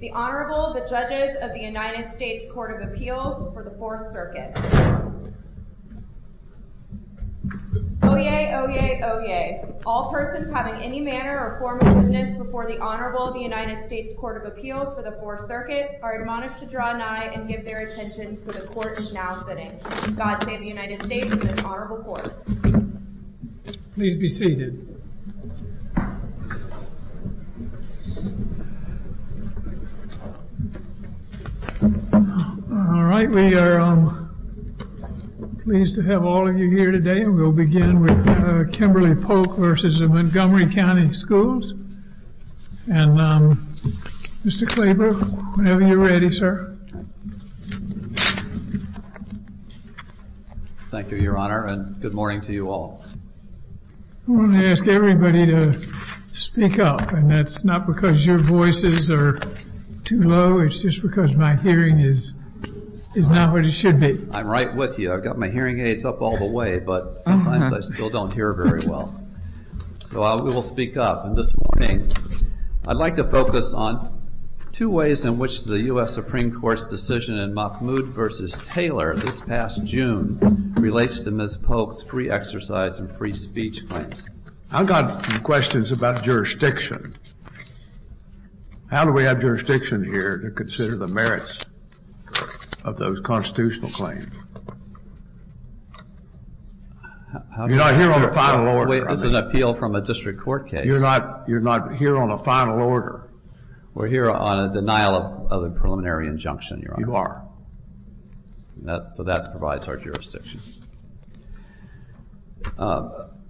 The Honorable, the Judges of the United States Court of Appeals for the Fourth Circuit Oyez! Oyez! Oyez! All persons having any manner or form of business before the Honorable of the United States Court of Appeals for the Fourth Circuit are admonished to draw nigh and give their attention to the court is now sitting. God save the United States and this Honorable Court. Please be seated. Alright, we are pleased to have all of you here today and we'll begin with Kimberly Polk v. Montgomery County Schools. And Mr. Klaber, whenever you're ready, sir. Thank you, Your Honor, and good morning to you all. I want to ask everybody to speak up and that's not because your voices are too low. It's just because my hearing is not what it should be. I'm right with you. I've got my hearing aids up all the way, but sometimes I still don't hear very well. So we will speak up. And this morning, I'd like to focus on two ways in which the U.S. Supreme Court's decision in Mahmoud v. Taylor this past June relates to Ms. Polk's free exercise and free speech claims. I've got some questions about jurisdiction. How do we have jurisdiction here to consider the merits of those constitutional claims? You're not here on a final order. Wait, this is an appeal from a district court case. You're not here on a final order. We're here on a denial of a preliminary injunction, Your Honor. You are. So that provides our jurisdiction.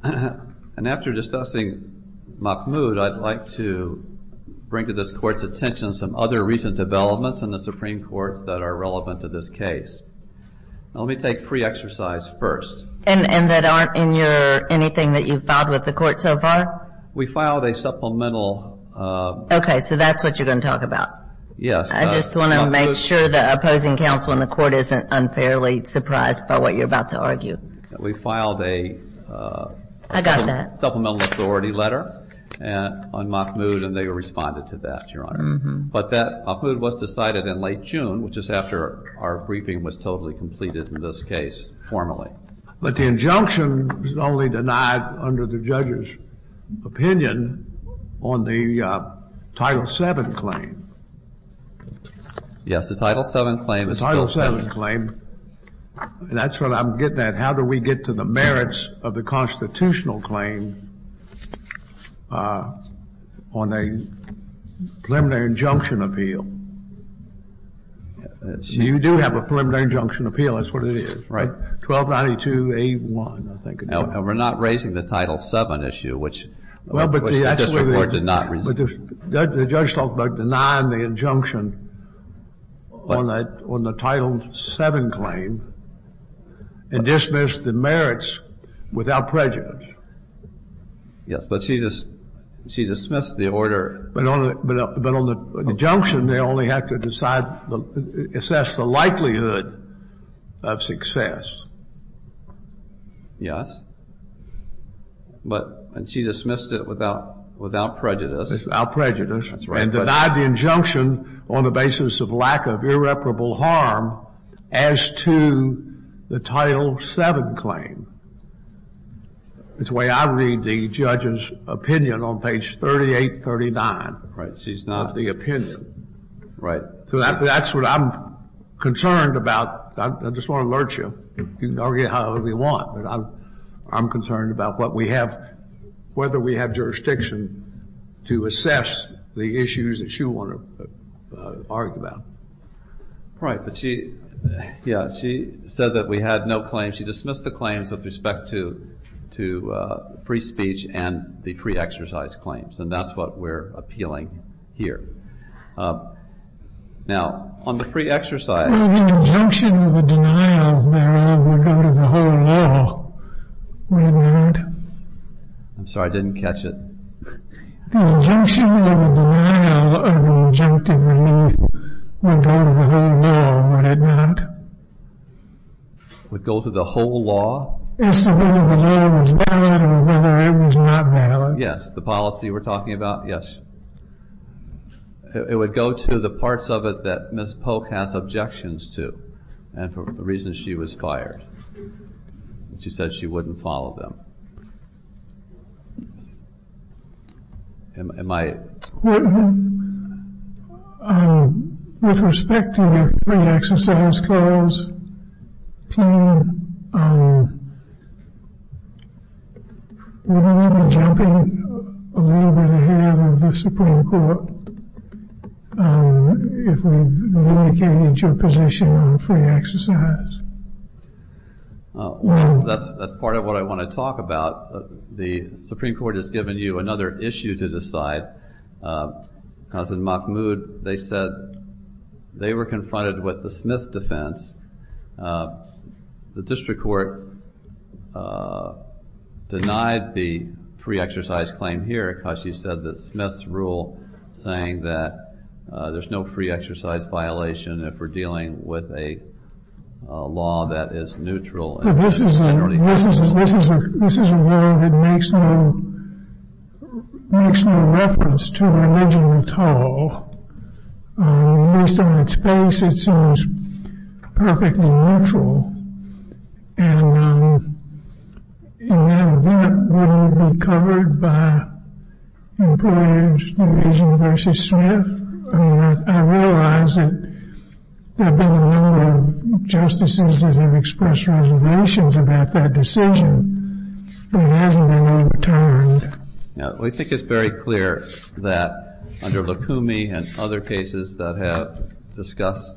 And after discussing Mahmoud, I'd like to bring to this Court's attention some other recent developments in the Supreme Court that are relevant to this case. Let me take free exercise first. And that aren't in anything that you've filed with the Court so far? We filed a supplemental. Okay, so that's what you're going to talk about. Yes. I just want to make sure the opposing counsel in the Court isn't unfairly surprised by what you're about to argue. We filed a supplemental authority letter on Mahmoud, and they responded to that, Your Honor. But that Mahmoud was decided in late June, which is after our briefing was totally completed in this case formally. But the injunction was only denied under the judge's opinion on the Title VII claim. Yes, the Title VII claim is still there. The Title VII claim, and that's what I'm getting at. And how do we get to the merits of the constitutional claim on a preliminary injunction appeal? You do have a preliminary injunction appeal. That's what it is, right? 1292A1, I think. And we're not raising the Title VII issue, which the district court did not raise. The judge talked about denying the injunction on the Title VII claim and dismissed the merits without prejudice. Yes, but she dismissed the order. But on the injunction, they only have to assess the likelihood of success. Yes, but she dismissed it without prejudice. Without prejudice. That's right. And denied the injunction on the basis of lack of irreparable harm as to the Title VII claim. It's the way I read the judge's opinion on page 3839. Right, she's not. Of the opinion. Right. So that's what I'm concerned about. I just want to alert you. You can argue however you want. But I'm concerned about whether we have jurisdiction to assess the issues that you want to argue about. Right, but she said that we had no claims. She dismissed the claims with respect to free speech and the free exercise claims. And that's what we're appealing here. Now, on the free exercise. Well, the injunction of the denial thereof would go to the whole law, would it not? I'm sorry, I didn't catch it. The injunction of the denial of an injunctive relief would go to the whole law, would it not? Would go to the whole law? If the whole law was valid or whether it was not valid. Yes, the policy we're talking about, yes. It would go to the parts of it that Ms. Polk has objections to. And for the reason she was fired. She said she wouldn't follow them. Am I? With respect to the free exercise claims, would we be jumping a little bit ahead of the Supreme Court if we indicated your position on free exercise? Well, that's part of what I want to talk about. The Supreme Court has given you another issue to decide. Because in Mahmoud, they said they were confronted with the Smith defense. The district court denied the free exercise claim here because she said that Smith's rule saying that there's no free exercise violation if we're dealing with a law that is neutral. This is a law that makes no reference to religion at all. Based on its base, it seems perfectly neutral. And that will be covered by employers, division versus Smith. I realize that there have been a number of justices that have expressed reservations about that decision. But it hasn't been overturned. We think it's very clear that under Lukumi and other cases that have discussed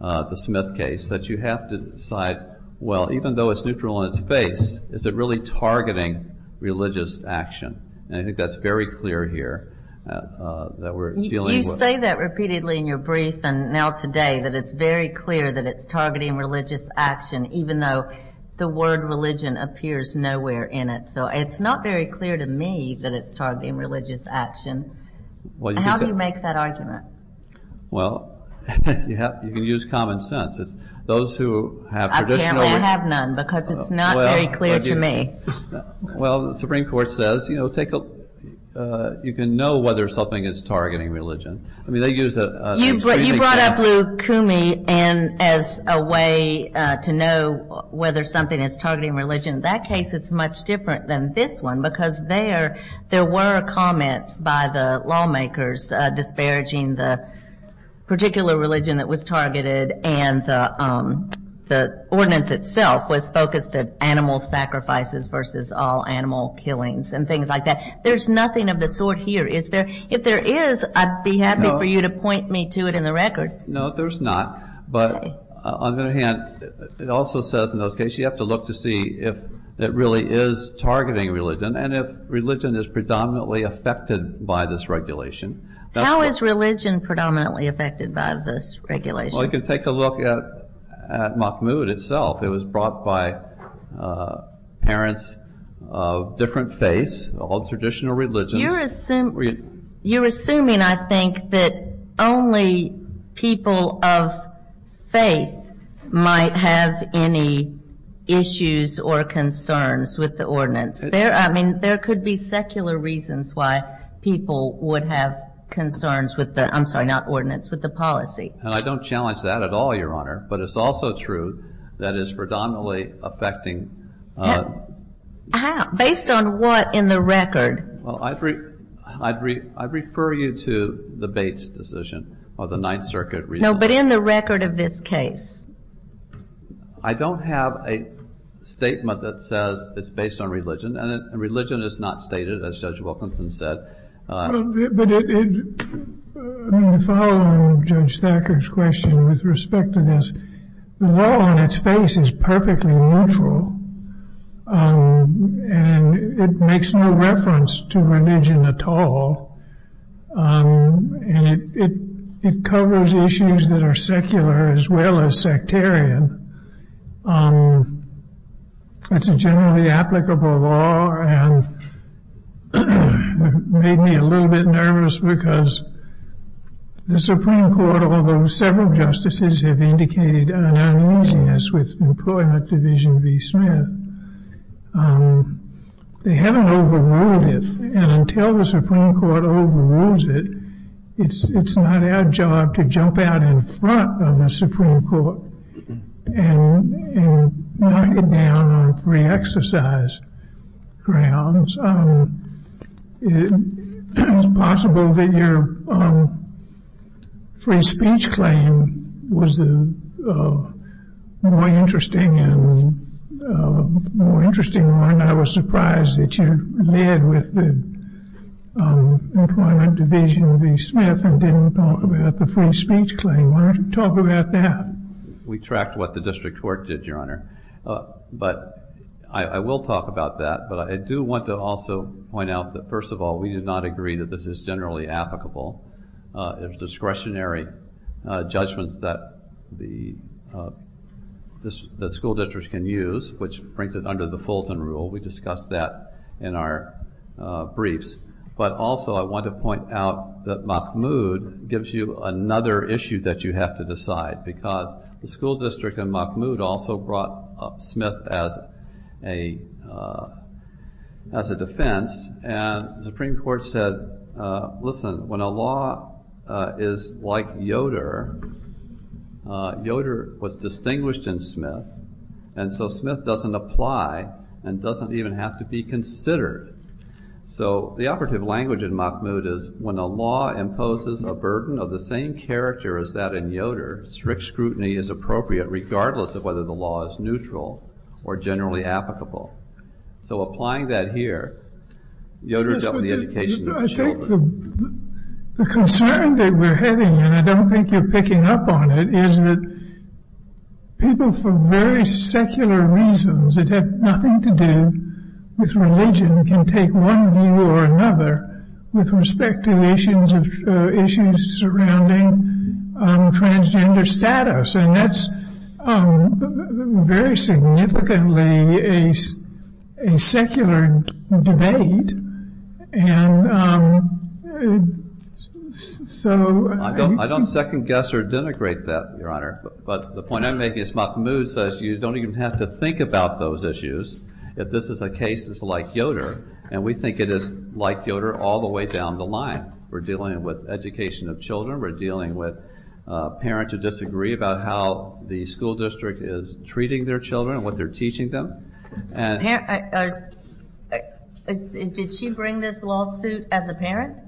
the Smith case that you have to decide, well, even though it's neutral in its base, is it really targeting religious action? And I think that's very clear here. You say that repeatedly in your brief and now today that it's very clear that it's targeting religious action even though the word religion appears nowhere in it. So it's not very clear to me that it's targeting religious action. How do you make that argument? Well, you can use common sense. Apparently I have none because it's not very clear to me. Well, the Supreme Court says, you know, you can know whether something is targeting religion. You brought up Lukumi as a way to know whether something is targeting religion. In that case, it's much different than this one because there were comments by the lawmakers disparaging the particular religion that was targeted and the ordinance itself was focused at animal sacrifices versus all animal killings and things like that. There's nothing of the sort here. If there is, I'd be happy for you to point me to it in the record. No, there's not. But on the other hand, it also says in those cases you have to look to see if it really is targeting religion and if religion is predominantly affected by this regulation. How is religion predominantly affected by this regulation? Well, you can take a look at Mahmoud itself. It was brought by parents of different faiths, all traditional religions. You're assuming, I think, that only people of faith might have any issues or concerns with the ordinance. I mean, there could be secular reasons why people would have concerns with the, I'm sorry, not ordinance, with the policy. And I don't challenge that at all, Your Honor. But it's also true that it's predominantly affecting... Based on what in the record? Well, I'd refer you to the Bates decision or the Ninth Circuit reason. No, but in the record of this case. I don't have a statement that says it's based on religion. And religion is not stated, as Judge Wilkinson said. But in following Judge Thacker's question with respect to this, the law on its face is perfectly neutral. And it makes no reference to religion at all. And it covers issues that are secular as well as sectarian. It's a generally applicable law. And it made me a little bit nervous because the Supreme Court, although several justices have indicated an uneasiness with Employment Division v. Smith, they haven't overruled it. And until the Supreme Court overrules it, it's not our job to jump out in front of the Supreme Court and knock it down on free exercise grounds. It's possible that your free speech claim was the more interesting one. And I was surprised that you led with the Employment Division v. Smith and didn't talk about the free speech claim. Why don't you talk about that? We tracked what the district court did, Your Honor. But I will talk about that. But I do want to also point out that, first of all, we do not agree that this is generally applicable. It was discretionary judgments that school districts can use, which brings it under the Fulton Rule. We discussed that in our briefs. But also I want to point out that Mahmoud gives you another issue that you have to decide because the school district in Mahmoud also brought Smith as a defense. And the Supreme Court said, listen, when a law is like Yoder, Yoder was distinguished in Smith, and so Smith doesn't apply and doesn't even have to be considered. So the operative language in Mahmoud is when a law imposes a burden of the same character as that in Yoder, strict scrutiny is appropriate regardless of whether the law is neutral or generally applicable. So applying that here, Yoder is up in the education of the children. I think the concern that we're having, and I don't think you're picking up on it, is that people for very secular reasons that have nothing to do with religion can take one view or another with respect to issues surrounding transgender status. And that's very significantly a secular debate. And so... I don't second-guess or denigrate that, Your Honor. But the point I'm making is Mahmoud says you don't even have to think about those issues if this is a case that's like Yoder. And we think it is like Yoder all the way down the line. We're dealing with education of children. We're dealing with parents who disagree about how the school district is treating their children and what they're teaching them. Did she bring this lawsuit as a parent?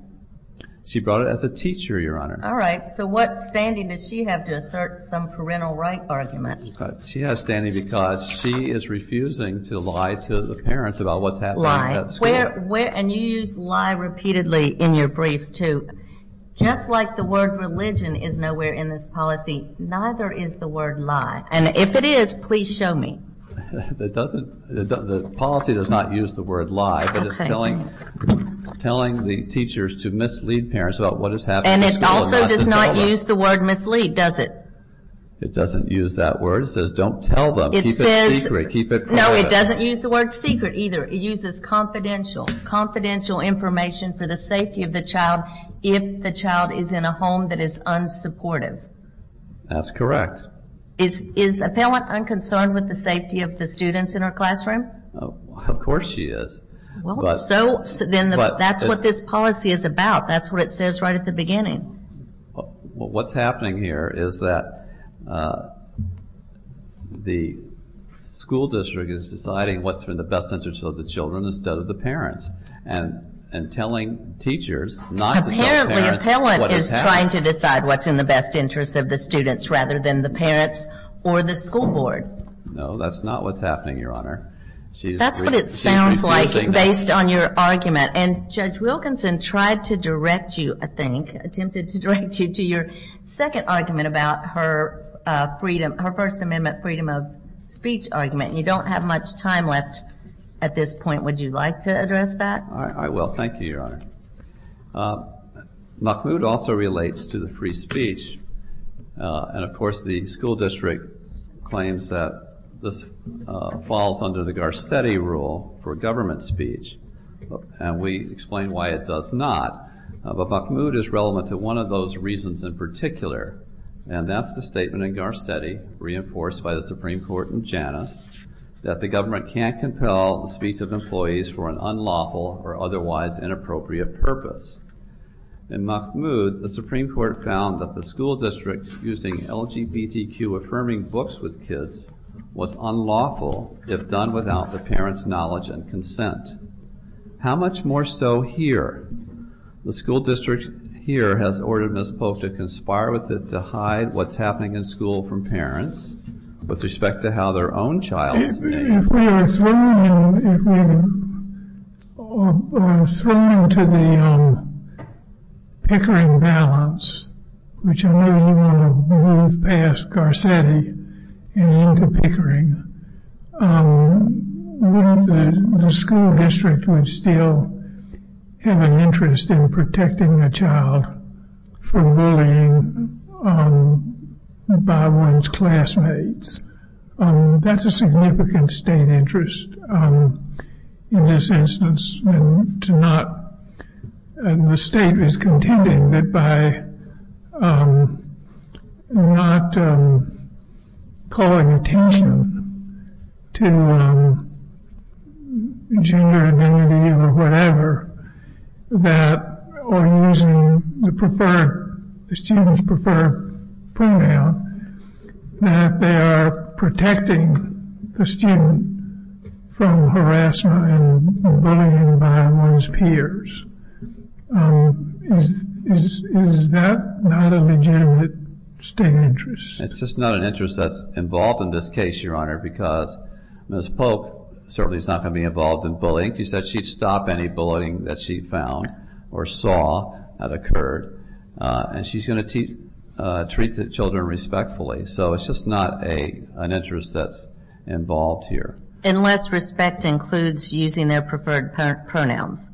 She brought it as a teacher, Your Honor. All right. So what standing does she have to assert some parental right argument? She has standing because she is refusing to lie to the parents about what's happening at school. And you use lie repeatedly in your briefs, too. Just like the word religion is nowhere in this policy, neither is the word lie. And if it is, please show me. The policy does not use the word lie, but it's telling the teachers to mislead parents about what is happening at school. And it also does not use the word mislead, does it? It doesn't use that word. It says don't tell them. Keep it secret. No, it doesn't use the word secret either. It uses confidential information for the safety of the child if the child is in a home that is unsupportive. That's correct. Is Appellant unconcerned with the safety of the students in her classroom? Of course she is. Well, so then that's what this policy is about. That's what it says right at the beginning. What's happening here is that the school district is deciding what's in the best interest of the children instead of the parents and telling teachers not to tell parents what is happening. Apparently Appellant is trying to decide what's in the best interest of the students rather than the parents or the school board. No, that's not what's happening, Your Honor. That's what it sounds like based on your argument. And Judge Wilkinson tried to direct you, I think, attempted to direct you to your second argument about her First Amendment freedom of speech argument. You don't have much time left at this point. Would you like to address that? I will. Thank you, Your Honor. Mahmoud also relates to the free speech. And, of course, the school district claims that this falls under the Garcetti rule for government speech. And we explain why it does not. But Mahmoud is relevant to one of those reasons in particular, and that's the statement in Garcetti, reinforced by the Supreme Court in Janus, that the government can't compel the speech of employees for an unlawful or otherwise inappropriate purpose. In Mahmoud, the Supreme Court found that the school district using LGBTQ affirming books with kids was unlawful if done without the parents' knowledge and consent. How much more so here? The school district here has ordered Ms. Polk to conspire with it to hide what's happening in school from parents with respect to how their own child is named. If we were thrown into the Pickering balance, which I know you want to move past Garcetti and into Pickering, wouldn't the school district still have an interest in protecting a child from bullying by one's classmates? That's a significant state interest in this instance. And the state is contending that by not calling attention to gender identity or whatever, or using the students' preferred pronoun, that they are protecting the student from harassment and bullying by one's peers. Is that not a legitimate state interest? It's just not an interest that's involved in this case, Your Honor, because Ms. Polk certainly is not going to be involved in bullying. She said she'd stop any bullying that she found or saw that occurred. And she's going to treat the children respectfully. So it's just not an interest that's involved here. Unless respect includes using their preferred pronouns.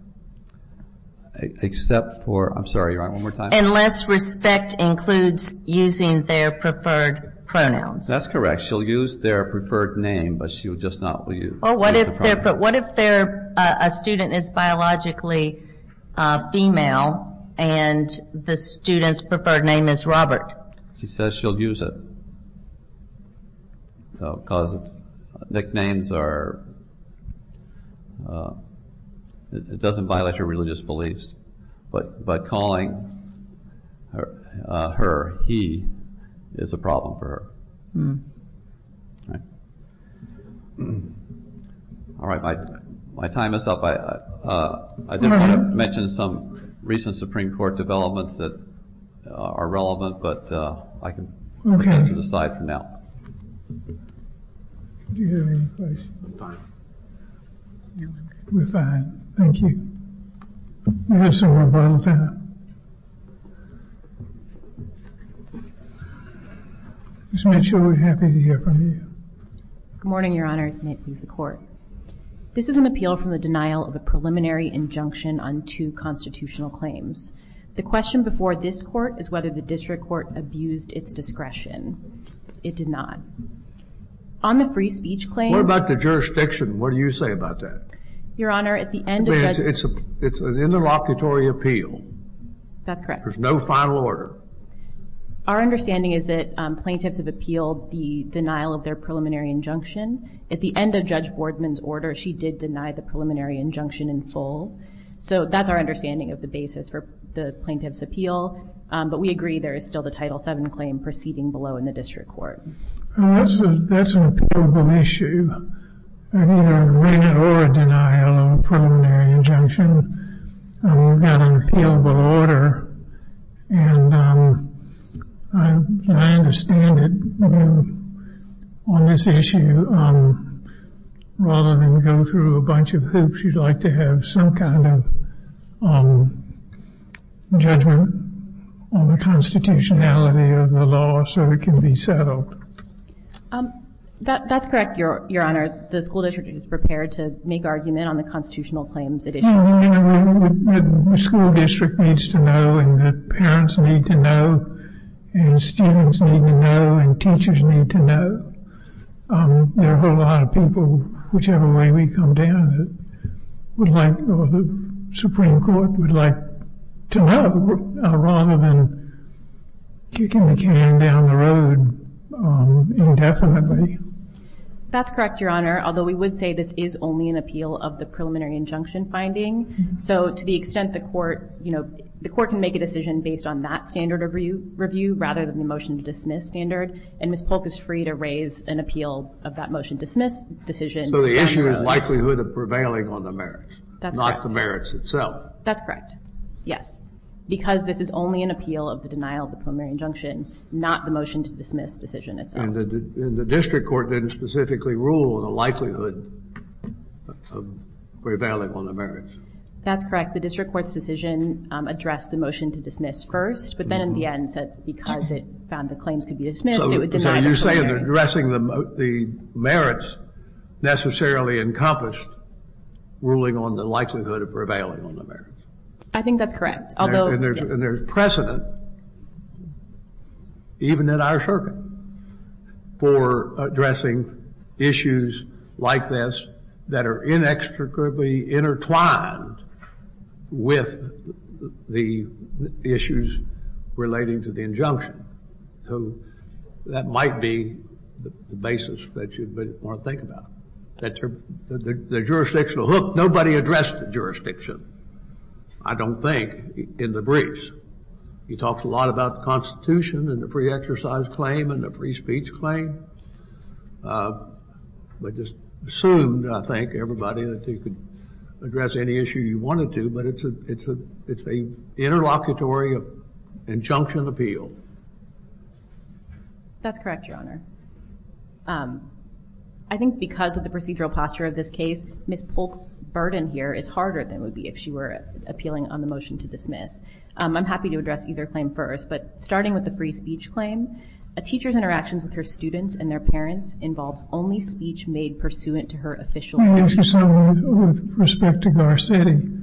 Except for, I'm sorry, Your Honor, one more time. Unless respect includes using their preferred pronouns. That's correct. She'll use their preferred name, but she will just not use the pronoun. Well, what if a student is biologically female and the student's preferred name is Robert? She says she'll use it because nicknames are, it doesn't violate her religious beliefs. But calling her he is a problem for her. All right. My time is up. I did want to mention some recent Supreme Court developments that are relevant, but I can put that to the side for now. Do you have any questions? We're fine. We're fine. Thank you. We have some more time. Ms. Mitchell, we're happy to hear from you. Good morning, Your Honor. This is an appeal from the denial of a preliminary injunction on two constitutional claims. The question before this Court is whether the district court abused its discretion. It did not. On the free speech claim. What about the jurisdiction? What do you say about that? Your Honor, at the end of the... It's an interlocutory appeal. That's correct. There's no final order. Our understanding is that plaintiffs have appealed the denial of their preliminary injunction. At the end of Judge Bordman's order, she did deny the preliminary injunction in full. So that's our understanding of the basis for the plaintiff's appeal. But we agree there is still the Title VII claim proceeding below in the district court. That's an appealable issue. I mean, a denial of a preliminary injunction. We've got an appealable order. And I understand that on this issue, rather than go through a bunch of hoops, you'd like to have some kind of judgment on the constitutionality of the law so it can be settled. That's correct, Your Honor. The school district is prepared to make argument on the constitutional claims it issues. The school district needs to know, and the parents need to know, and students need to know, and teachers need to know. There are a lot of people, whichever way we come down, that the Supreme Court would like to know, rather than kicking the can down the road indefinitely. That's correct, Your Honor. Although we would say this is only an appeal of the preliminary injunction finding. So to the extent the court can make a decision based on that standard of review, rather than the motion to dismiss standard, and Ms. Polk is free to raise an appeal of that motion to dismiss decision. So the issue is likelihood of prevailing on the merits, not the merits itself. That's correct. Yes. Because this is only an appeal of the denial of the preliminary injunction, not the motion to dismiss decision itself. And the district court didn't specifically rule on the likelihood of prevailing on the merits. That's correct. The district court's decision addressed the motion to dismiss first, but then in the end said because it found the claims could be dismissed, it would deny the preliminary. So you're saying that addressing the merits necessarily encompassed ruling on the likelihood of prevailing on the merits. I think that's correct. And there's precedent, even in our circuit, for addressing issues like this that are inextricably intertwined with the issues relating to the injunction. So that might be the basis that you'd want to think about. The jurisdictional hook, nobody addressed the jurisdiction, I don't think, in the briefs. You talked a lot about the Constitution and the free exercise claim and the free speech claim. But just assumed, I think, everybody that you could address any issue you wanted to. But it's an interlocutory injunction appeal. That's correct, Your Honor. I think because of the procedural posture of this case, Ms. Polk's burden here is harder than it would be if she were appealing on the motion to dismiss. I'm happy to address either claim first. But starting with the free speech claim, a teacher's interactions with her students and their parents involves only speech made pursuant to her official duty. Let me ask you something with respect to Garcetti.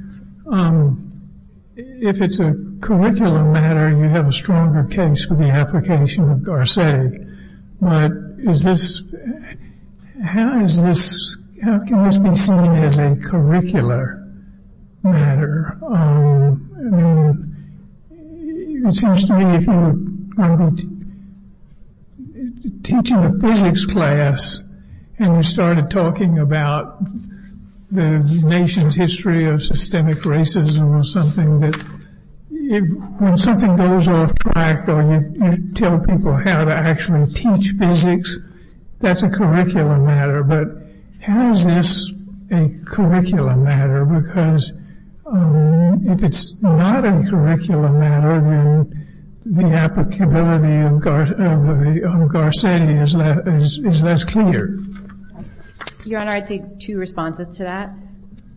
If it's a curriculum matter, you have a stronger case for the application of Garcetti. But how can this be seen as a curricular matter? I mean, it seems to me if you're teaching a physics class and you started talking about the nation's history of systemic racism or something, that when something goes off track or you tell people how to actually teach physics, that's a curriculum matter. But how is this a curriculum matter? Because if it's not a curriculum matter, then the applicability of Garcetti is less clear. Your Honor, I'd say two responses to that.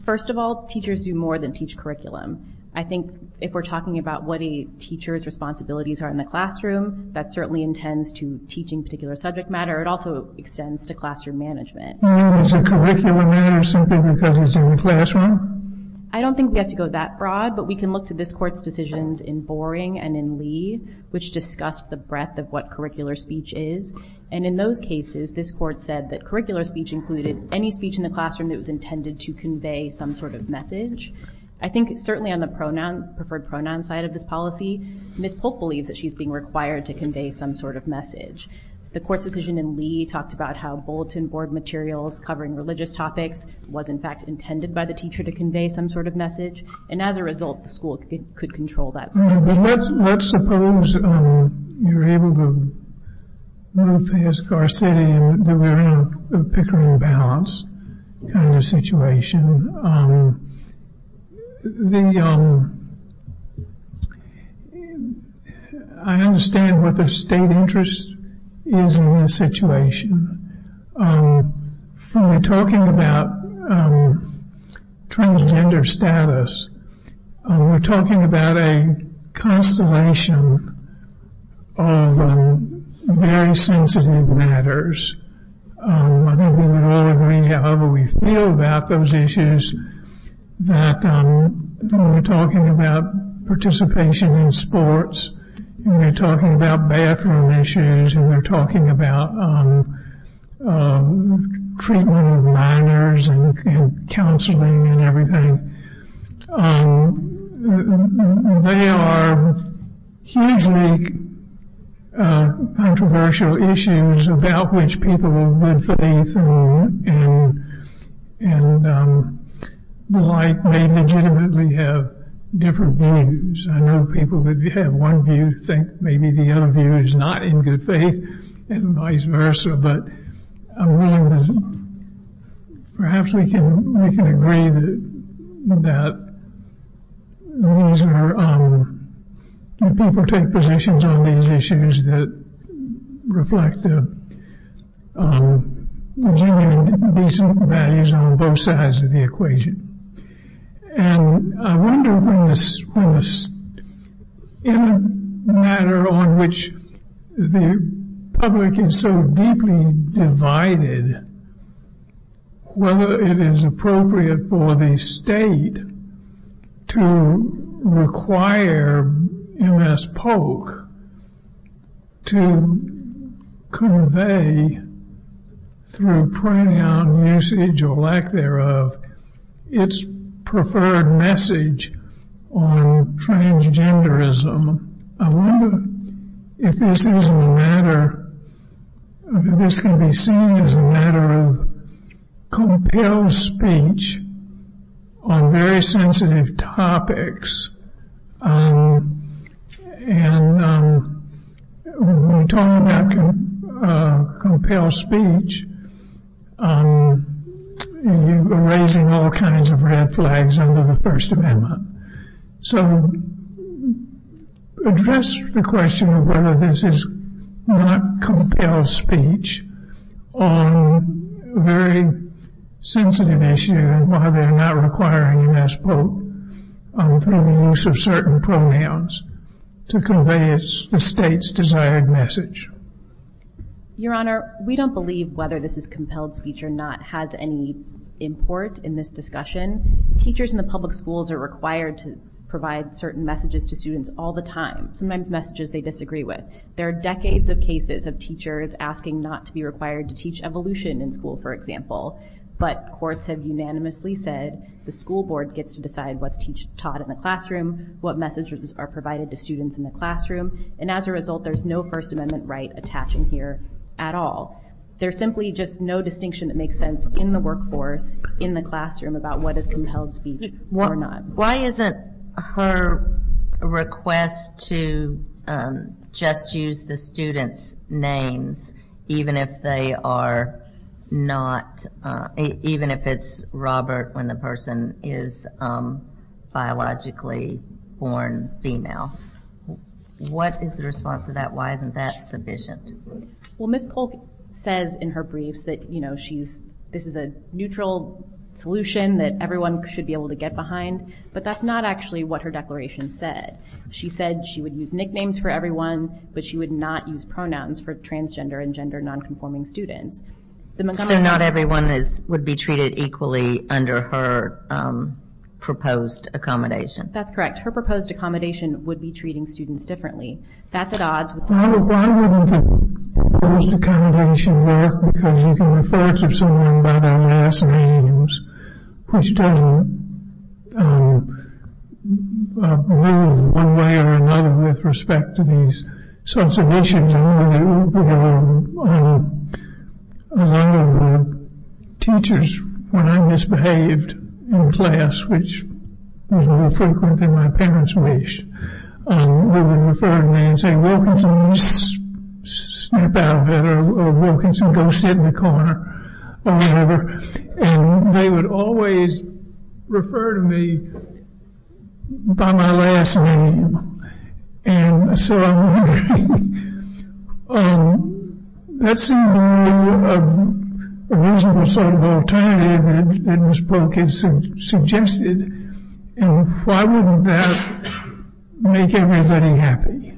First of all, teachers do more than teach curriculum. I think if we're talking about what a teacher's responsibilities are in the classroom, that certainly intends to teaching particular subject matter. It also extends to classroom management. So it's a curriculum matter simply because it's in the classroom? I don't think we have to go that broad. But we can look to this court's decisions in Boring and in Lee, which discussed the breadth of what curricular speech is. And in those cases, this court said that curricular speech included any speech in the classroom that was intended to convey some sort of message. I think certainly on the preferred pronoun side of this policy, Ms. Polk believes that she's being required to convey some sort of message. The court's decision in Lee talked about how bulletin board materials covering religious topics was, in fact, intended by the teacher to convey some sort of message. And as a result, the school could control that speech. Let's suppose you're able to move past Garcetti and that we're in a Pickering balance kind of situation. And I understand what the state interest is in this situation. When we're talking about transgender status, we're talking about a constellation of very sensitive matters. I think we would all agree, however we feel about those issues, that when we're talking about participation in sports and we're talking about bathroom issues and we're talking about treatment of minors and counseling and everything, they are hugely controversial issues about which people of good faith and the like may legitimately have different views. I know people that have one view think maybe the other view is not in good faith and vice versa. But perhaps we can agree that people take positions on these issues that reflect genuine and decent values on both sides of the equation. And I wonder, in a matter on which the public is so deeply divided, whether it is appropriate for the state to require MS Polk to convey, through pronoun usage or lack thereof, its preferred message on transgenderism. I wonder if this can be seen as a matter of compelled speech on very sensitive topics. And when we're talking about compelled speech, you're raising all kinds of red flags under the First Amendment. So address the question of whether this is not compelled speech on a very sensitive issue and why they're not requiring MS Polk, through the use of certain pronouns, to convey the state's desired message. Your Honor, we don't believe whether this is compelled speech or not has any import in this discussion. Teachers in the public schools are required to provide certain messages to students all the time, sometimes messages they disagree with. There are decades of cases of teachers asking not to be required to teach evolution in school, for example. But courts have unanimously said the school board gets to decide what's taught in the classroom, what messages are provided to students in the classroom. And as a result, there's no First Amendment right attaching here at all. There's simply just no distinction that makes sense in the workforce, in the classroom, about what is compelled speech or not. Why isn't her request to just use the students' names, even if they are not, even if it's Robert when the person is biologically born female? What is the response to that? Why isn't that sufficient? Well, Ms. Polk says in her briefs that this is a neutral solution that everyone should be able to get behind. But that's not actually what her declaration said. She said she would use nicknames for everyone, but she would not use pronouns for transgender and gender nonconforming students. So not everyone would be treated equally under her proposed accommodation? That's correct. Her proposed accommodation would be treating students differently. That's at odds with the school. Why wouldn't the proposed accommodation work? Because you can refer to someone by their last names, which doesn't move one way or another with respect to these sorts of issues. And a lot of the teachers, when I misbehaved in class, which was more frequent than my parents wished, they would refer to me and say, Wilkinson, snap out of it, or Wilkinson, go sit in the corner, or whatever. And they would always refer to me by my last name. And so I'm wondering, that seems to me a reasonable sort of alternative that Ms. Polk has suggested. And why wouldn't that make everybody happy?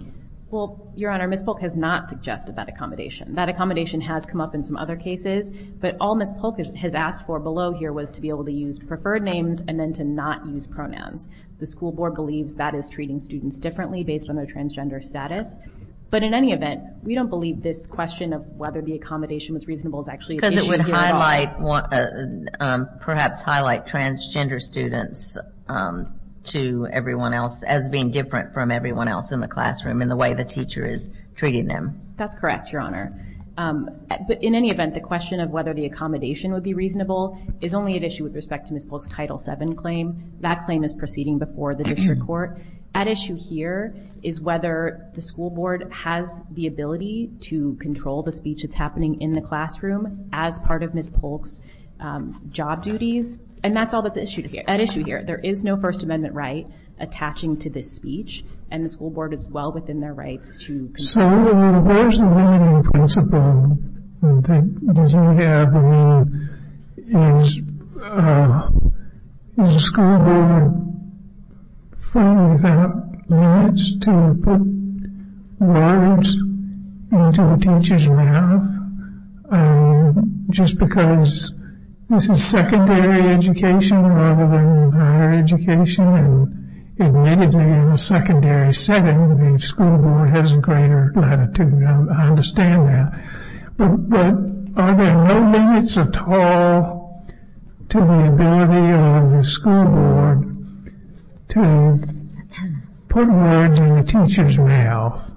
Well, Your Honor, Ms. Polk has not suggested that accommodation. That accommodation has come up in some other cases. But all Ms. Polk has asked for below here was to be able to use preferred names and then to not use pronouns. The school board believes that is treating students differently based on their transgender status. But in any event, we don't believe this question of whether the accommodation was reasonable is actually an issue here at all. Because it would perhaps highlight transgender students as being different from everyone else in the classroom in the way the teacher is treating them. That's correct, Your Honor. But in any event, the question of whether the accommodation would be reasonable is only an issue with respect to Ms. Polk's Title VII claim. That claim is proceeding before the district court. At issue here is whether the school board has the ability to control the speech that's happening in the classroom as part of Ms. Polk's job duties. And that's all that's at issue here. There is no First Amendment right attaching to this speech. And the school board is well within their rights So what is the limiting principle that you have? I mean, is the school board free without limits to put words into a teacher's mouth just because this is secondary education rather than higher education? And admittedly, in a secondary setting, the school board has a greater latitude. I understand that. But are there no limits at all to the ability of the school board to put words in a teacher's mouth?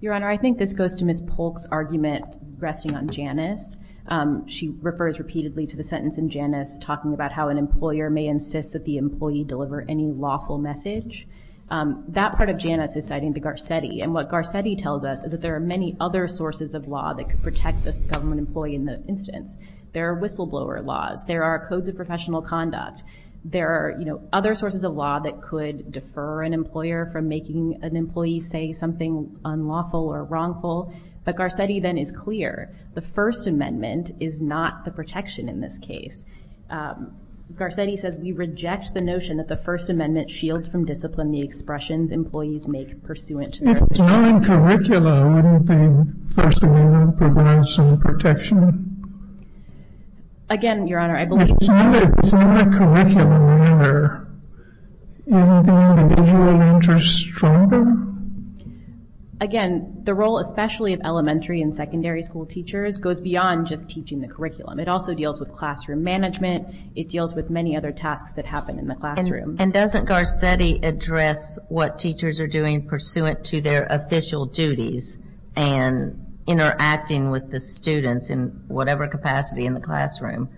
Your Honor, I think this goes to Ms. Polk's argument resting on Janice. She refers repeatedly to the sentence in Janice talking about how an employer may insist that the employee deliver any lawful message. That part of Janice is citing to Garcetti. And what Garcetti tells us is that there are many other sources of law that could protect the government employee in that instance. There are whistleblower laws. There are codes of professional conduct. There are other sources of law that could defer an employer from making an employee say something unlawful or wrongful. But Garcetti then is clear. The First Amendment is not the protection in this case. Garcetti says, We reject the notion that the First Amendment shields from discipline the expressions employees make pursuant to their... If it's not in curricula, wouldn't the First Amendment provide some protection? Again, Your Honor, I believe... If it's not in the curriculum, wouldn't the individual interest strengthen? Again, the role, especially of elementary and secondary school teachers, goes beyond just teaching the curriculum. It also deals with classroom management. It deals with many other tasks that happen in the classroom. And doesn't Garcetti address what teachers are doing pursuant to their official duties and interacting with the students in whatever capacity in the classroom?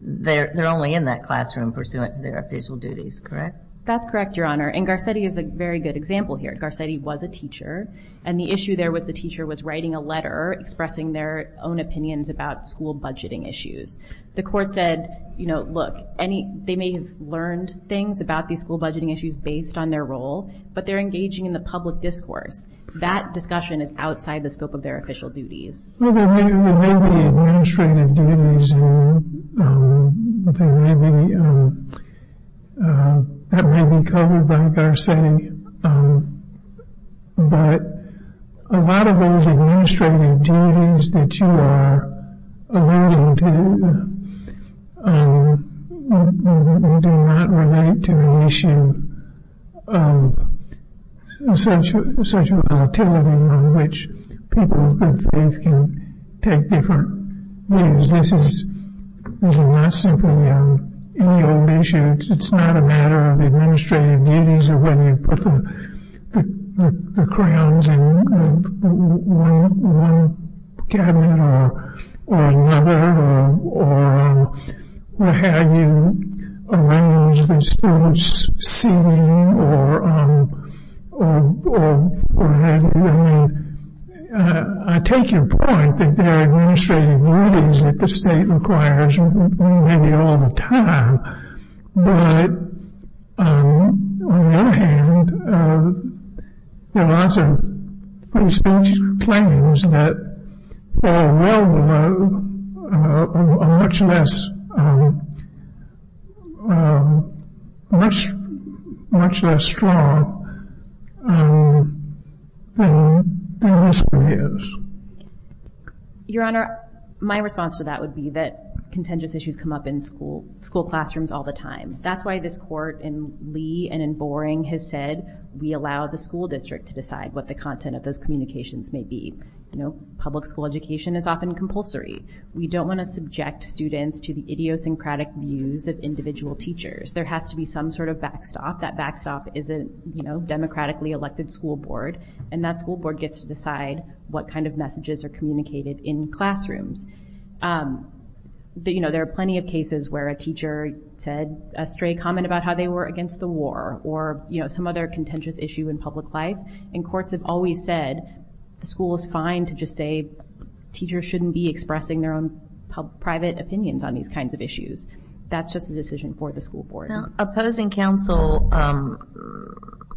They're only in that classroom pursuant to their official duties, correct? That's correct, Your Honor, and Garcetti is a very good example here. Garcetti was a teacher, and the issue there was the teacher was writing a letter expressing their own opinions about school budgeting issues. The court said, you know, look, they may have learned things about these school budgeting issues based on their role, but they're engaging in the public discourse. That discussion is outside the scope of their official duties. Well, there may be administrative duties, and that may be covered by Garcetti, but a lot of those administrative duties that you are alluding to do not relate to an issue of such volatility on which people of good faith can take different views. This is not simply an annual issue. It's not a matter of administrative duties or whether you put the crowns on one cabinet or another or how you arrange the students' seating or whatever. I mean, I take your point that there are administrative duties that the state requires maybe all the time, but on the other hand, there are lots of claims that fall well below or are much less strong than this one is. Your Honor, my response to that would be that contentious issues come up in school classrooms all the time. That's why this Court in Lee and in Boring has said we allow the school district to decide what the content of those communications may be. Public school education is often compulsory. We don't want to subject students to the idiosyncratic views of individual teachers. There has to be some sort of backstop. That backstop is a democratically elected school board, and that school board gets to decide what kind of messages are communicated in classrooms. There are plenty of cases where a teacher said a stray comment about how they were against the war or some other contentious issue in public life, and courts have always said the school is fine to just say teachers shouldn't be expressing their own private opinions on these kinds of issues. That's just a decision for the school board. Now, opposing counsel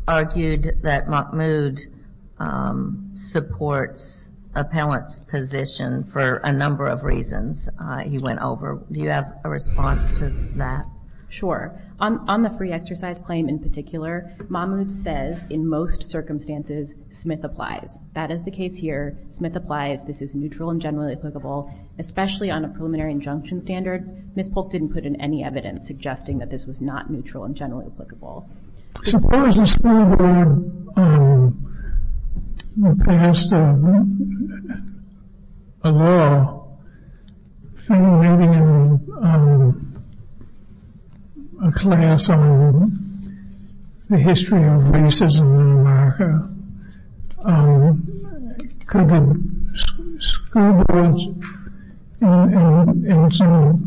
argued that Mahmoud supports appellant's position for a number of reasons. He went over. Do you have a response to that? Sure. On the free exercise claim in particular, Mahmoud says in most circumstances Smith applies. That is the case here. Smith applies. This is neutral and generally applicable, especially on a preliminary injunction standard. Ms. Polk didn't put in any evidence suggesting that this was not neutral and generally applicable. Suppose a school board passed a law maybe in a class on the history of racism in America. Could a school board, and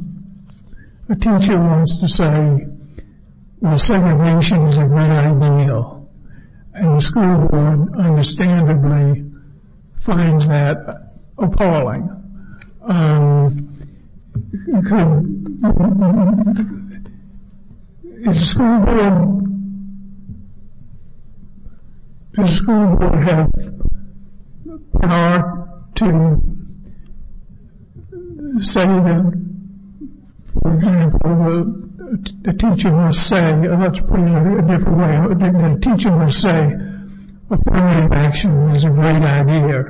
a teacher wants to say segregation is a great ideal, and the school board understandably finds that appalling. Does the school board have power to say that, for example, a teacher must say, and that's put in a different way, a teacher must say affirmative action is a great idea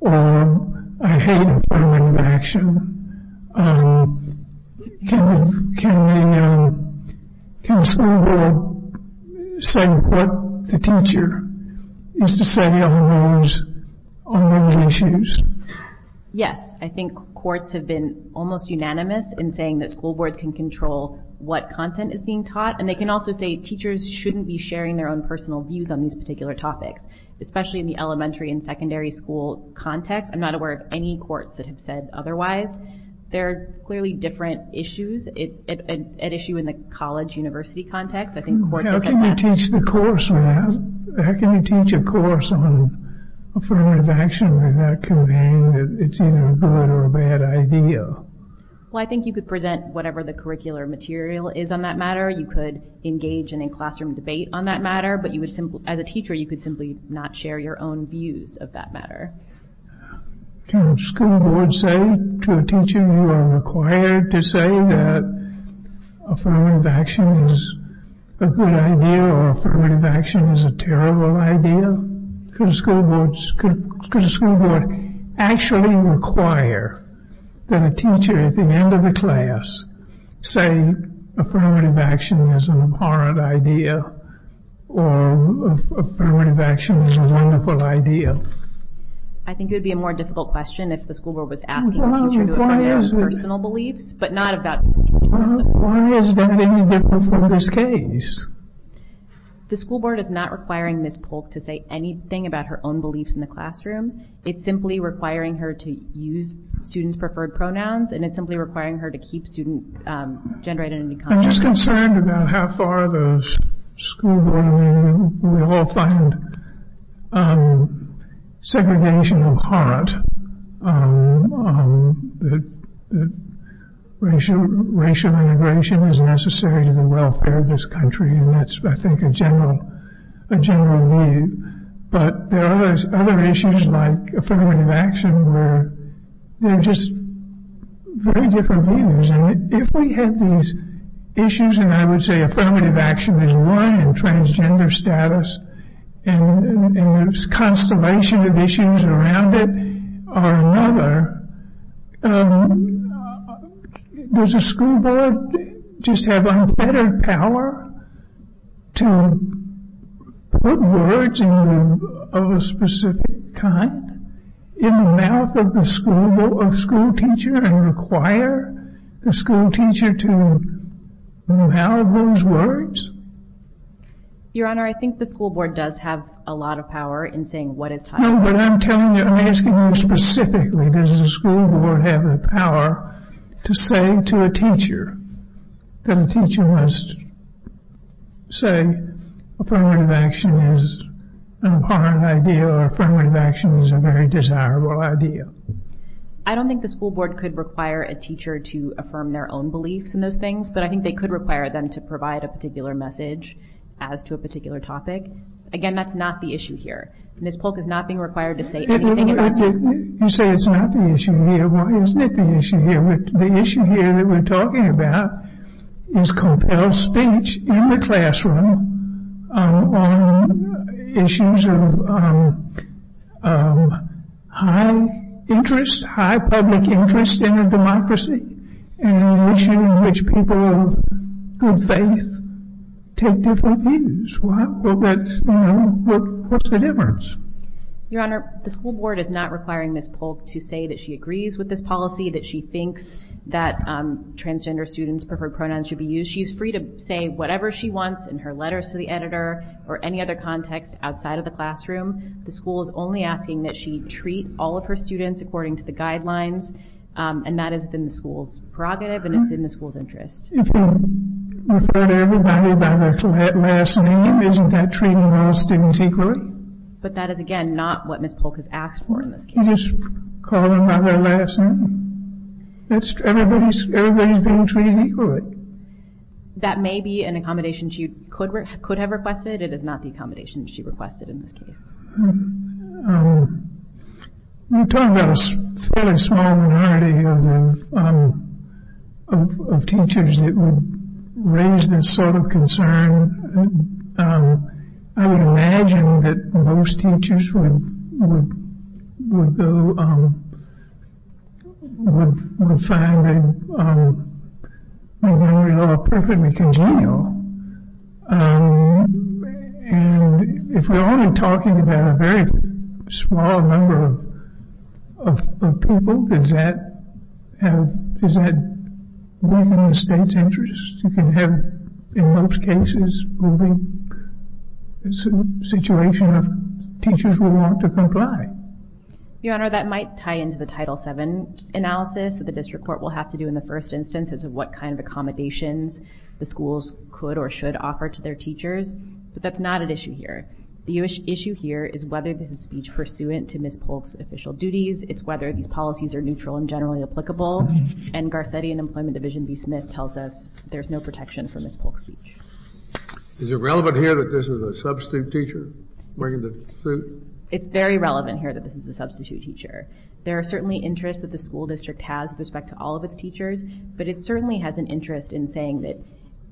or I hate affirmative action. Can the school board say what the teacher is to say on those issues? Yes. I think courts have been almost unanimous in saying that school boards can control what content is being taught, and they can also say teachers shouldn't be sharing their own personal views on these particular topics, especially in the elementary and secondary school context. I'm not aware of any courts that have said otherwise. There are clearly different issues, an issue in the college-university context. How can you teach a course on affirmative action when that can mean that it's either a good or a bad idea? Well, I think you could present whatever the curricular material is on that matter. You could engage in a classroom debate on that matter, but as a teacher, you could simply not share your own views of that matter. Can a school board say to a teacher you are required to say that affirmative action is a good idea or affirmative action is a terrible idea? Could a school board actually require that a teacher at the end of the class say affirmative action is an abhorrent idea or affirmative action is a wonderful idea? I think it would be a more difficult question if the school board was asking a teacher to affirm their own personal beliefs, but not about teacher's personal beliefs. Why is that any different from this case? The school board is not requiring Ms. Polk to say anything about her own beliefs in the classroom. It's simply requiring her to use students' preferred pronouns, and it's simply requiring her to keep student gender identity common. I'm just concerned about how far the school board, I mean, we all find segregation of heart, that racial integration is necessary to the welfare of this country, and that's, I think, a general need. But there are other issues like affirmative action where there are just very different views, and if we have these issues, and I would say affirmative action is one, and transgender status, and there's a constellation of issues around it, or another, does the school board just have unfettered power to put words of a specific kind in the mouth of the school teacher and require the school teacher to mouth those words? Your Honor, I think the school board does have a lot of power in saying what is taught. No, but I'm telling you, I'm asking you specifically, does the school board have the power to say to a teacher that a teacher must say affirmative action is an abhorrent idea or affirmative action is a very desirable idea? I don't think the school board could require a teacher to affirm their own beliefs in those things, but I think they could require them to provide a particular message as to a particular topic. Again, that's not the issue here. Ms. Polk is not being required to say anything about... You say it's not the issue here. Why isn't it the issue here? The issue here that we're talking about is compelled speech in the classroom on issues of high interest, high public interest in a democracy and an issue in which people of good faith take different views. What's the difference? Your Honor, the school board is not requiring Ms. Polk to say that she agrees with this policy, that she thinks that transgender students' preferred pronouns should be used. So she's free to say whatever she wants in her letters to the editor or any other context outside of the classroom. The school is only asking that she treat all of her students according to the guidelines, and that is within the school's prerogative and it's in the school's interest. If we refer to everybody by their last name, isn't that treating all students equally? But that is, again, not what Ms. Polk has asked for in this case. You just call them by their last name. Everybody's being treated equally. That may be an accommodation she could have requested. It is not the accommodation she requested in this case. You're talking about a fairly small minority of teachers that would raise this sort of concern. I would imagine that most teachers would find it perfectly congenial. If we're only talking about a very small number of people, does that weaken the state's interest? You can have, in most cases, a situation of teachers who want to comply. Your Honor, that might tie into the Title VII analysis that the district court will have to do in the first instance as to what kind of accommodations the schools could or should offer to their teachers, but that's not an issue here. The issue here is whether this is speech pursuant to Ms. Polk's official duties. It's whether these policies are neutral and generally applicable, and Garcetti and Employment Division v. Smith tells us there's no protection for Ms. Polk's speech. Is it relevant here that this is a substitute teacher? It's very relevant here that this is a substitute teacher. There are certainly interests that the school district has with respect to all of its teachers, but it certainly has an interest in saying that,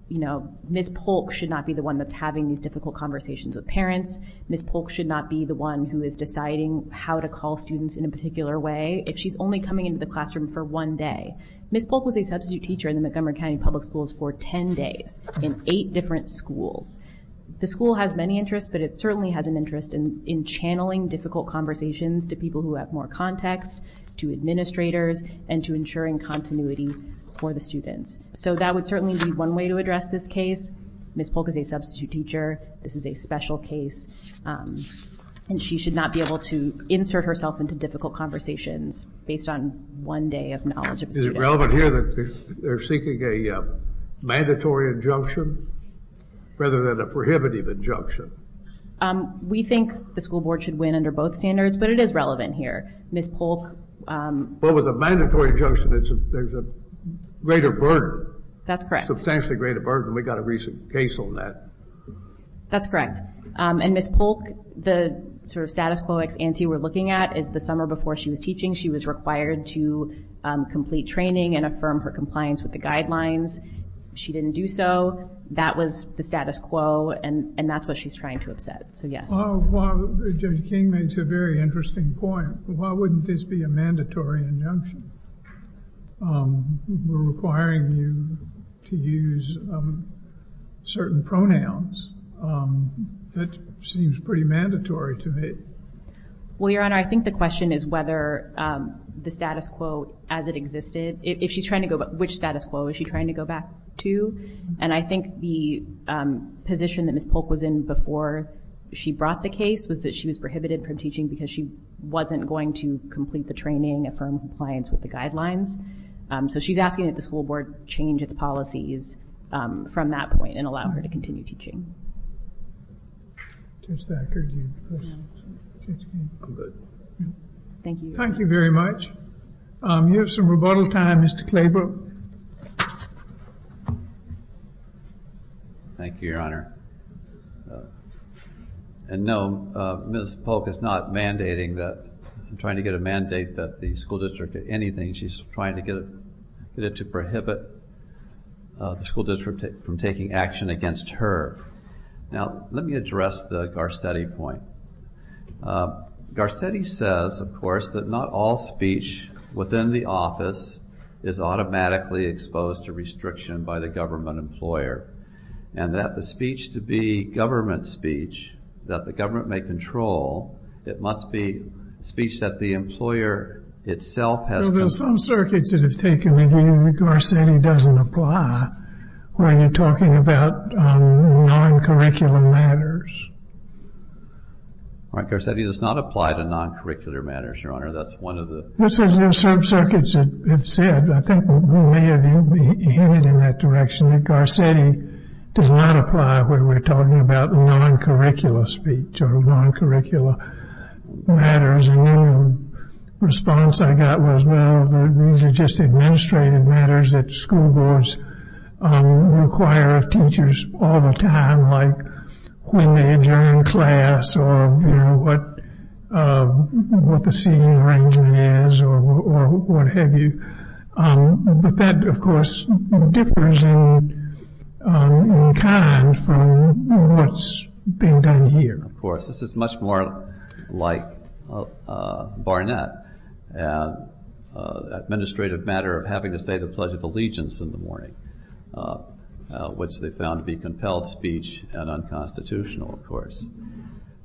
you know, Ms. Polk should not be the one that's having these difficult conversations with parents. Ms. Polk should not be the one who is deciding how to call students in a particular way if she's only coming into the classroom for one day. Ms. Polk was a substitute teacher in the Montgomery County Public Schools for 10 days in eight different schools. The school has many interests, but it certainly has an interest in channeling difficult conversations to people who have more context, to administrators, and to ensuring continuity for the students. So that would certainly be one way to address this case. Ms. Polk is a substitute teacher. This is a special case, and she should not be able to insert herself into difficult conversations based on one day of knowledge of a student. Is it relevant here that they're seeking a mandatory injunction rather than a prohibitive injunction? We think the school board should win under both standards, but it is relevant here. Ms. Polk... Well, with a mandatory injunction, there's a greater burden. That's correct. A substantially greater burden. We got a recent case on that. That's correct, and Ms. Polk, the sort of status quo ex ante we're looking at is the summer before she was teaching. She was required to complete training and affirm her compliance with the guidelines. She didn't do so. That was the status quo, and that's what she's trying to upset, so yes. Well, Judge King makes a very interesting point. Why wouldn't this be a mandatory injunction? We're requiring you to use certain pronouns. That seems pretty mandatory to me. Well, Your Honor, I think the question is whether the status quo as it existed... Which status quo is she trying to go back to? And I think the position that Ms. Polk was in before she brought the case was that she was prohibited from teaching because she wasn't going to complete the training, affirm compliance with the guidelines. So she's asking that the school board change its policies from that point and allow her to continue teaching. Thank you very much. You have some rebuttal time, Mr. Claybrook. Thank you, Your Honor. And no, Ms. Polk is not mandating that... trying to get a mandate that the school district do anything. She's trying to get it to prohibit the school district from taking action against her. Now, let me address the Garcetti point. Garcetti says, of course, that not all speech within the office is automatically exposed to restriction by the government employer, and that the speech to be government speech that the government may control, it must be speech that the employer itself has... Well, there are some circuits that have taken... that Garcetti doesn't apply when you're talking about non-curricular matters. All right, Garcetti, that's not applied to non-curricular matters, Your Honor. That's one of the... There's some circuits that have said... I think we may have hinted in that direction that Garcetti does not apply when we're talking about non-curricular speech or non-curricular matters. And then the response I got was, well, these are just administrative matters that school boards require of teachers all the time, like when they adjourn class or what the seating arrangement is or what have you. But that, of course, differs in kind from what's being done here. Of course. This is much more like Barnett. Administrative matter of having to say the Pledge of Allegiance in the morning, which they found to be compelled speech and unconstitutional, of course.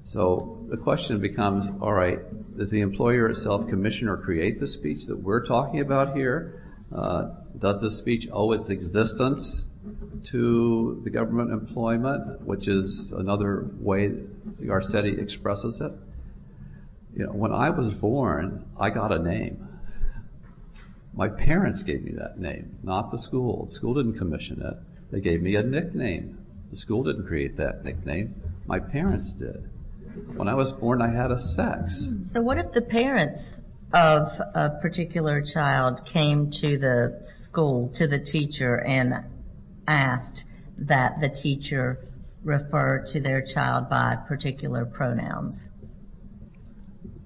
So the question becomes, all right, does the employer itself commission or create the speech that we're talking about here? Does the speech owe its existence to the government employment, which is another way Garcetti expresses it? When I was born, I got a name. My parents gave me that name, not the school. The school didn't commission it. They gave me a nickname. The school didn't create that nickname. My parents did. When I was born, I had a sex. So what if the parents of a particular child came to the school, to the teacher, and asked that the teacher refer to their child by particular pronouns?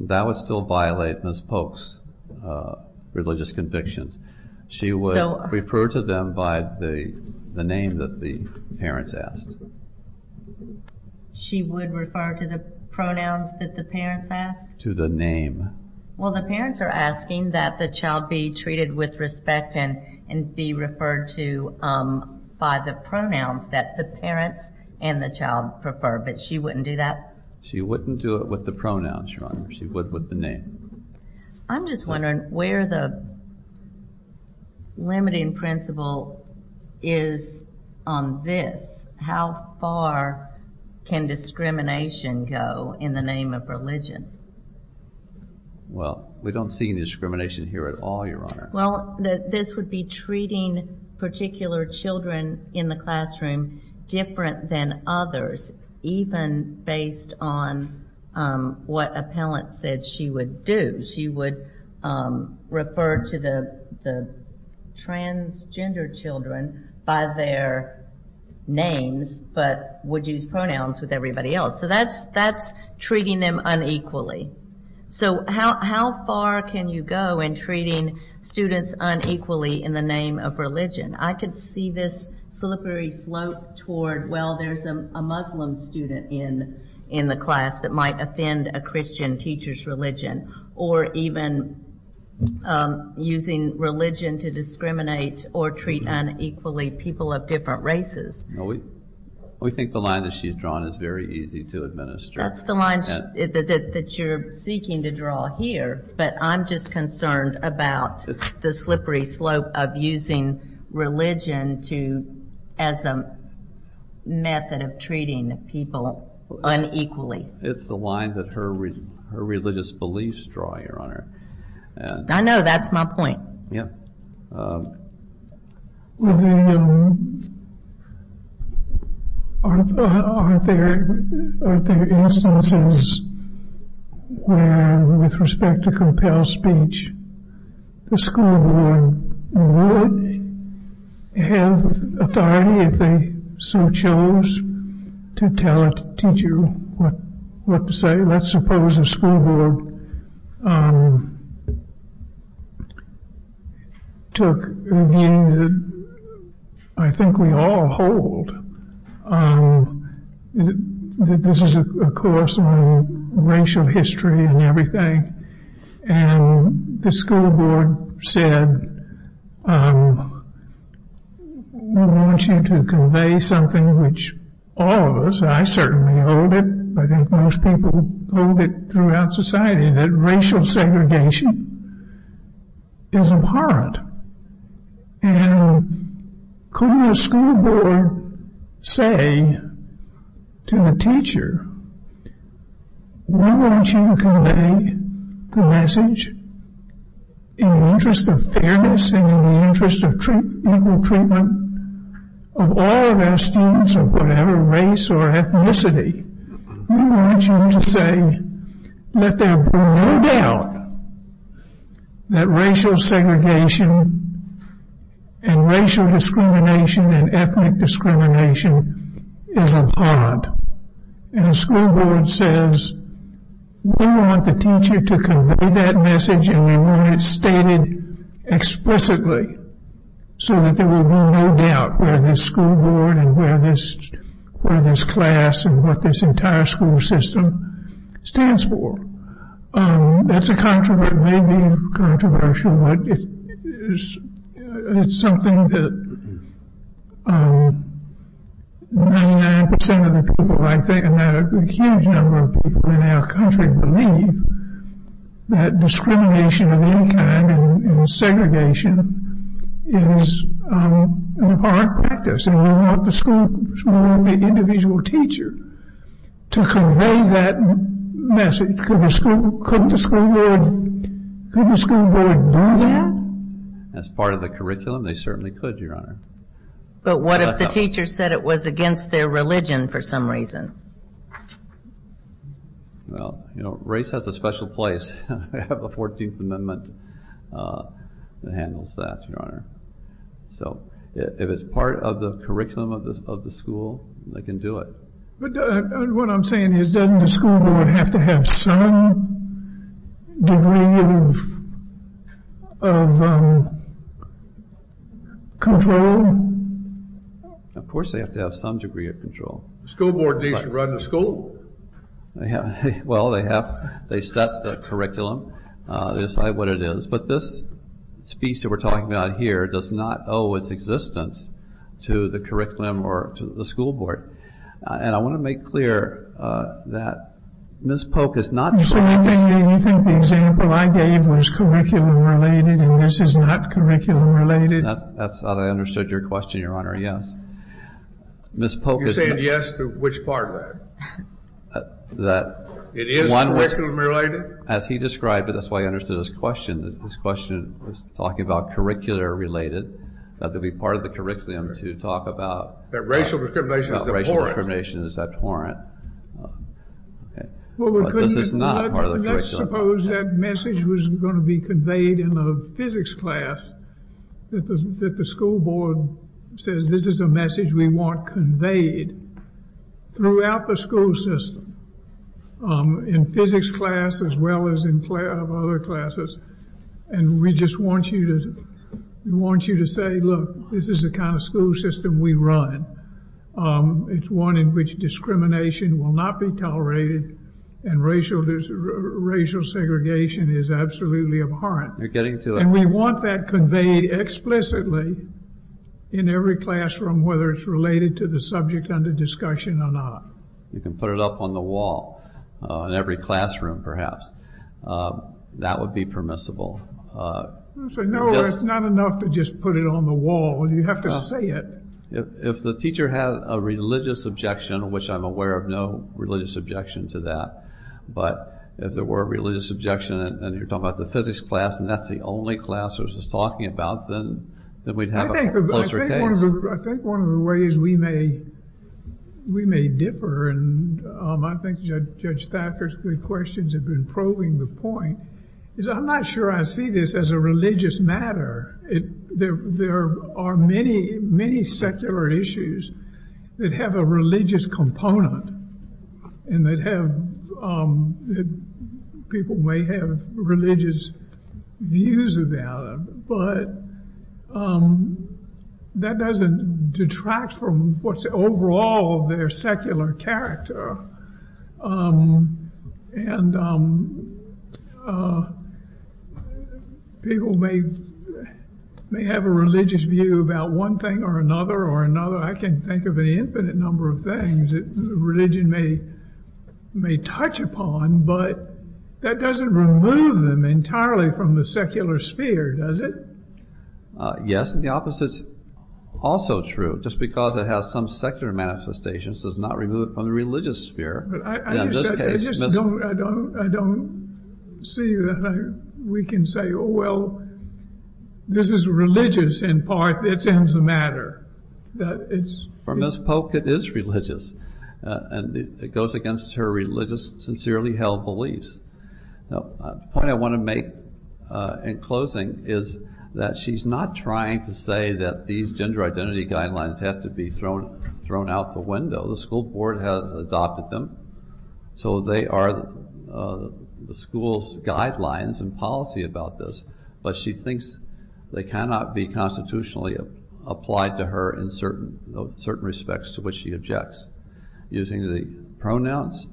That would still violate Ms. Polk's religious convictions. She would refer to them by the name that the parents asked. She would refer to the pronouns that the parents asked? To the name. Well, the parents are asking that the child be treated with respect and be referred to by the pronouns that the parents and the child prefer. But she wouldn't do that? She wouldn't do it with the pronouns, Your Honor. She would with the name. I'm just wondering where the limiting principle is on this. How far can discrimination go in the name of religion? Well, we don't see any discrimination here at all, Your Honor. Well, this would be treating particular children in the classroom different than others, even based on what a parent said she would do. She would refer to the transgender children by their names, but would use pronouns with everybody else. So that's treating them unequally. So how far can you go in treating students unequally in the name of religion? I could see this slippery slope toward, well, there's a Muslim student in the class that might offend a Christian teacher's religion, or even using religion to discriminate or treat unequally people of different races. We think the line that she's drawn is very easy to administer. That's the line that you're seeking to draw here, but I'm just concerned about the slippery slope of using religion as a method of treating people unequally. It's the line that her religious beliefs draw, Your Honor. I know. That's my point. Are there instances where, with respect to compelled speech, the school board would have authority if they so chose to tell a teacher what to say? Let's suppose the school board took the, I think we all hold, that this is a course on racial history and everything, and the school board said, we want you to convey something which all of us, I certainly hold it, I think most people hold it throughout society, that racial segregation is abhorrent. And couldn't a school board say to the teacher, we want you to convey the message in the interest of fairness and in the interest of equal treatment of all of our students of whatever race or ethnicity. We want you to say that there be no doubt that racial segregation and racial discrimination and ethnic discrimination is abhorrent. And the school board says, we want the teacher to convey that message and we want it stated explicitly so that there will be no doubt where this school board and where this class and what this entire school system stands for. That's a controversy, maybe controversial, but it's something that 99% of the people, I think a huge number of people in our country believe, that discrimination of any kind and segregation is an abhorrent practice and we want the individual teacher to convey that message. Could the school board do that? As part of the curriculum, they certainly could, Your Honor. But what if the teacher said it was against their religion for some reason? Well, race has a special place. We have a 14th Amendment that handles that, Your Honor. So if it's part of the curriculum of the school, they can do it. What I'm saying is, doesn't the school board have to have some degree of control? Of course they have to have some degree of control. The school board needs to run the school? Well, they set the curriculum. They decide what it is. But this speech that we're talking about here does not owe its existence to the curriculum or to the school board. And I want to make clear that Ms. Polk is not... You think the example I gave was curriculum-related and this is not curriculum-related? That's how I understood your question, Your Honor, yes. You're saying yes to which part of that? It is curriculum-related? As he described it, that's why I understood his question. His question was talking about curricular-related, that they'd be part of the curriculum to talk about... That racial discrimination is abhorrent. That racial discrimination is abhorrent. But this is not part of the curriculum. Let's suppose that message was going to be conveyed in a physics class, that the school board says this is a message we want conveyed throughout the school system, in physics class as well as in other classes. And we just want you to say, look, this is the kind of school system we run. It's one in which discrimination will not be tolerated and racial segregation is absolutely abhorrent. And we want that conveyed explicitly in every classroom, whether it's related to the subject under discussion or not. You can put it up on the wall in every classroom, perhaps. That would be permissible. No, it's not enough to just put it on the wall. You have to say it. If the teacher had a religious objection, which I'm aware of no religious objection to that, but if there were a religious objection, and you're talking about the physics class, and that's the only class we're just talking about, then we'd have a closer case. I think one of the ways we may differ, and I think Judge Thacker's good questions have been probing the point, is I'm not sure I see this as a religious matter. There are many, many secular issues that have a religious component and that people may have religious views about them, but that doesn't detract from what's overall their secular character. And people may have a religious view about one thing or another or another. I can think of an infinite number of things that religion may touch upon, but that doesn't remove them entirely from the secular sphere, does it? Yes, and the opposite's also true, just because it has some secular manifestations does not remove it from the religious sphere. But I just don't see that we can say, oh, well, this is religious in part, it's in the matter. For Ms. Polk, it is religious, and it goes against her religious, sincerely held beliefs. The point I want to make in closing is that she's not trying to say that these gender identity guidelines have to be thrown out the window. The school board has adopted them, so they are the school's guidelines and policy about this, but she thinks they cannot be constitutionally applied to her in certain respects to which she objects. Using the pronouns,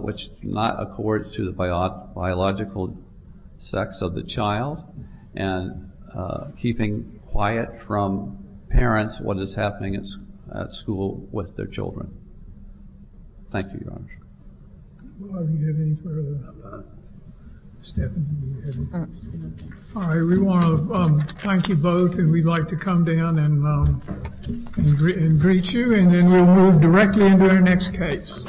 which do not accord to the biological sex of the child, and keeping quiet from parents what is happening at school with their children. Thank you, Your Honor. All right, we want to thank you both, and we'd like to come down and greet you, and then we'll move directly into our next case.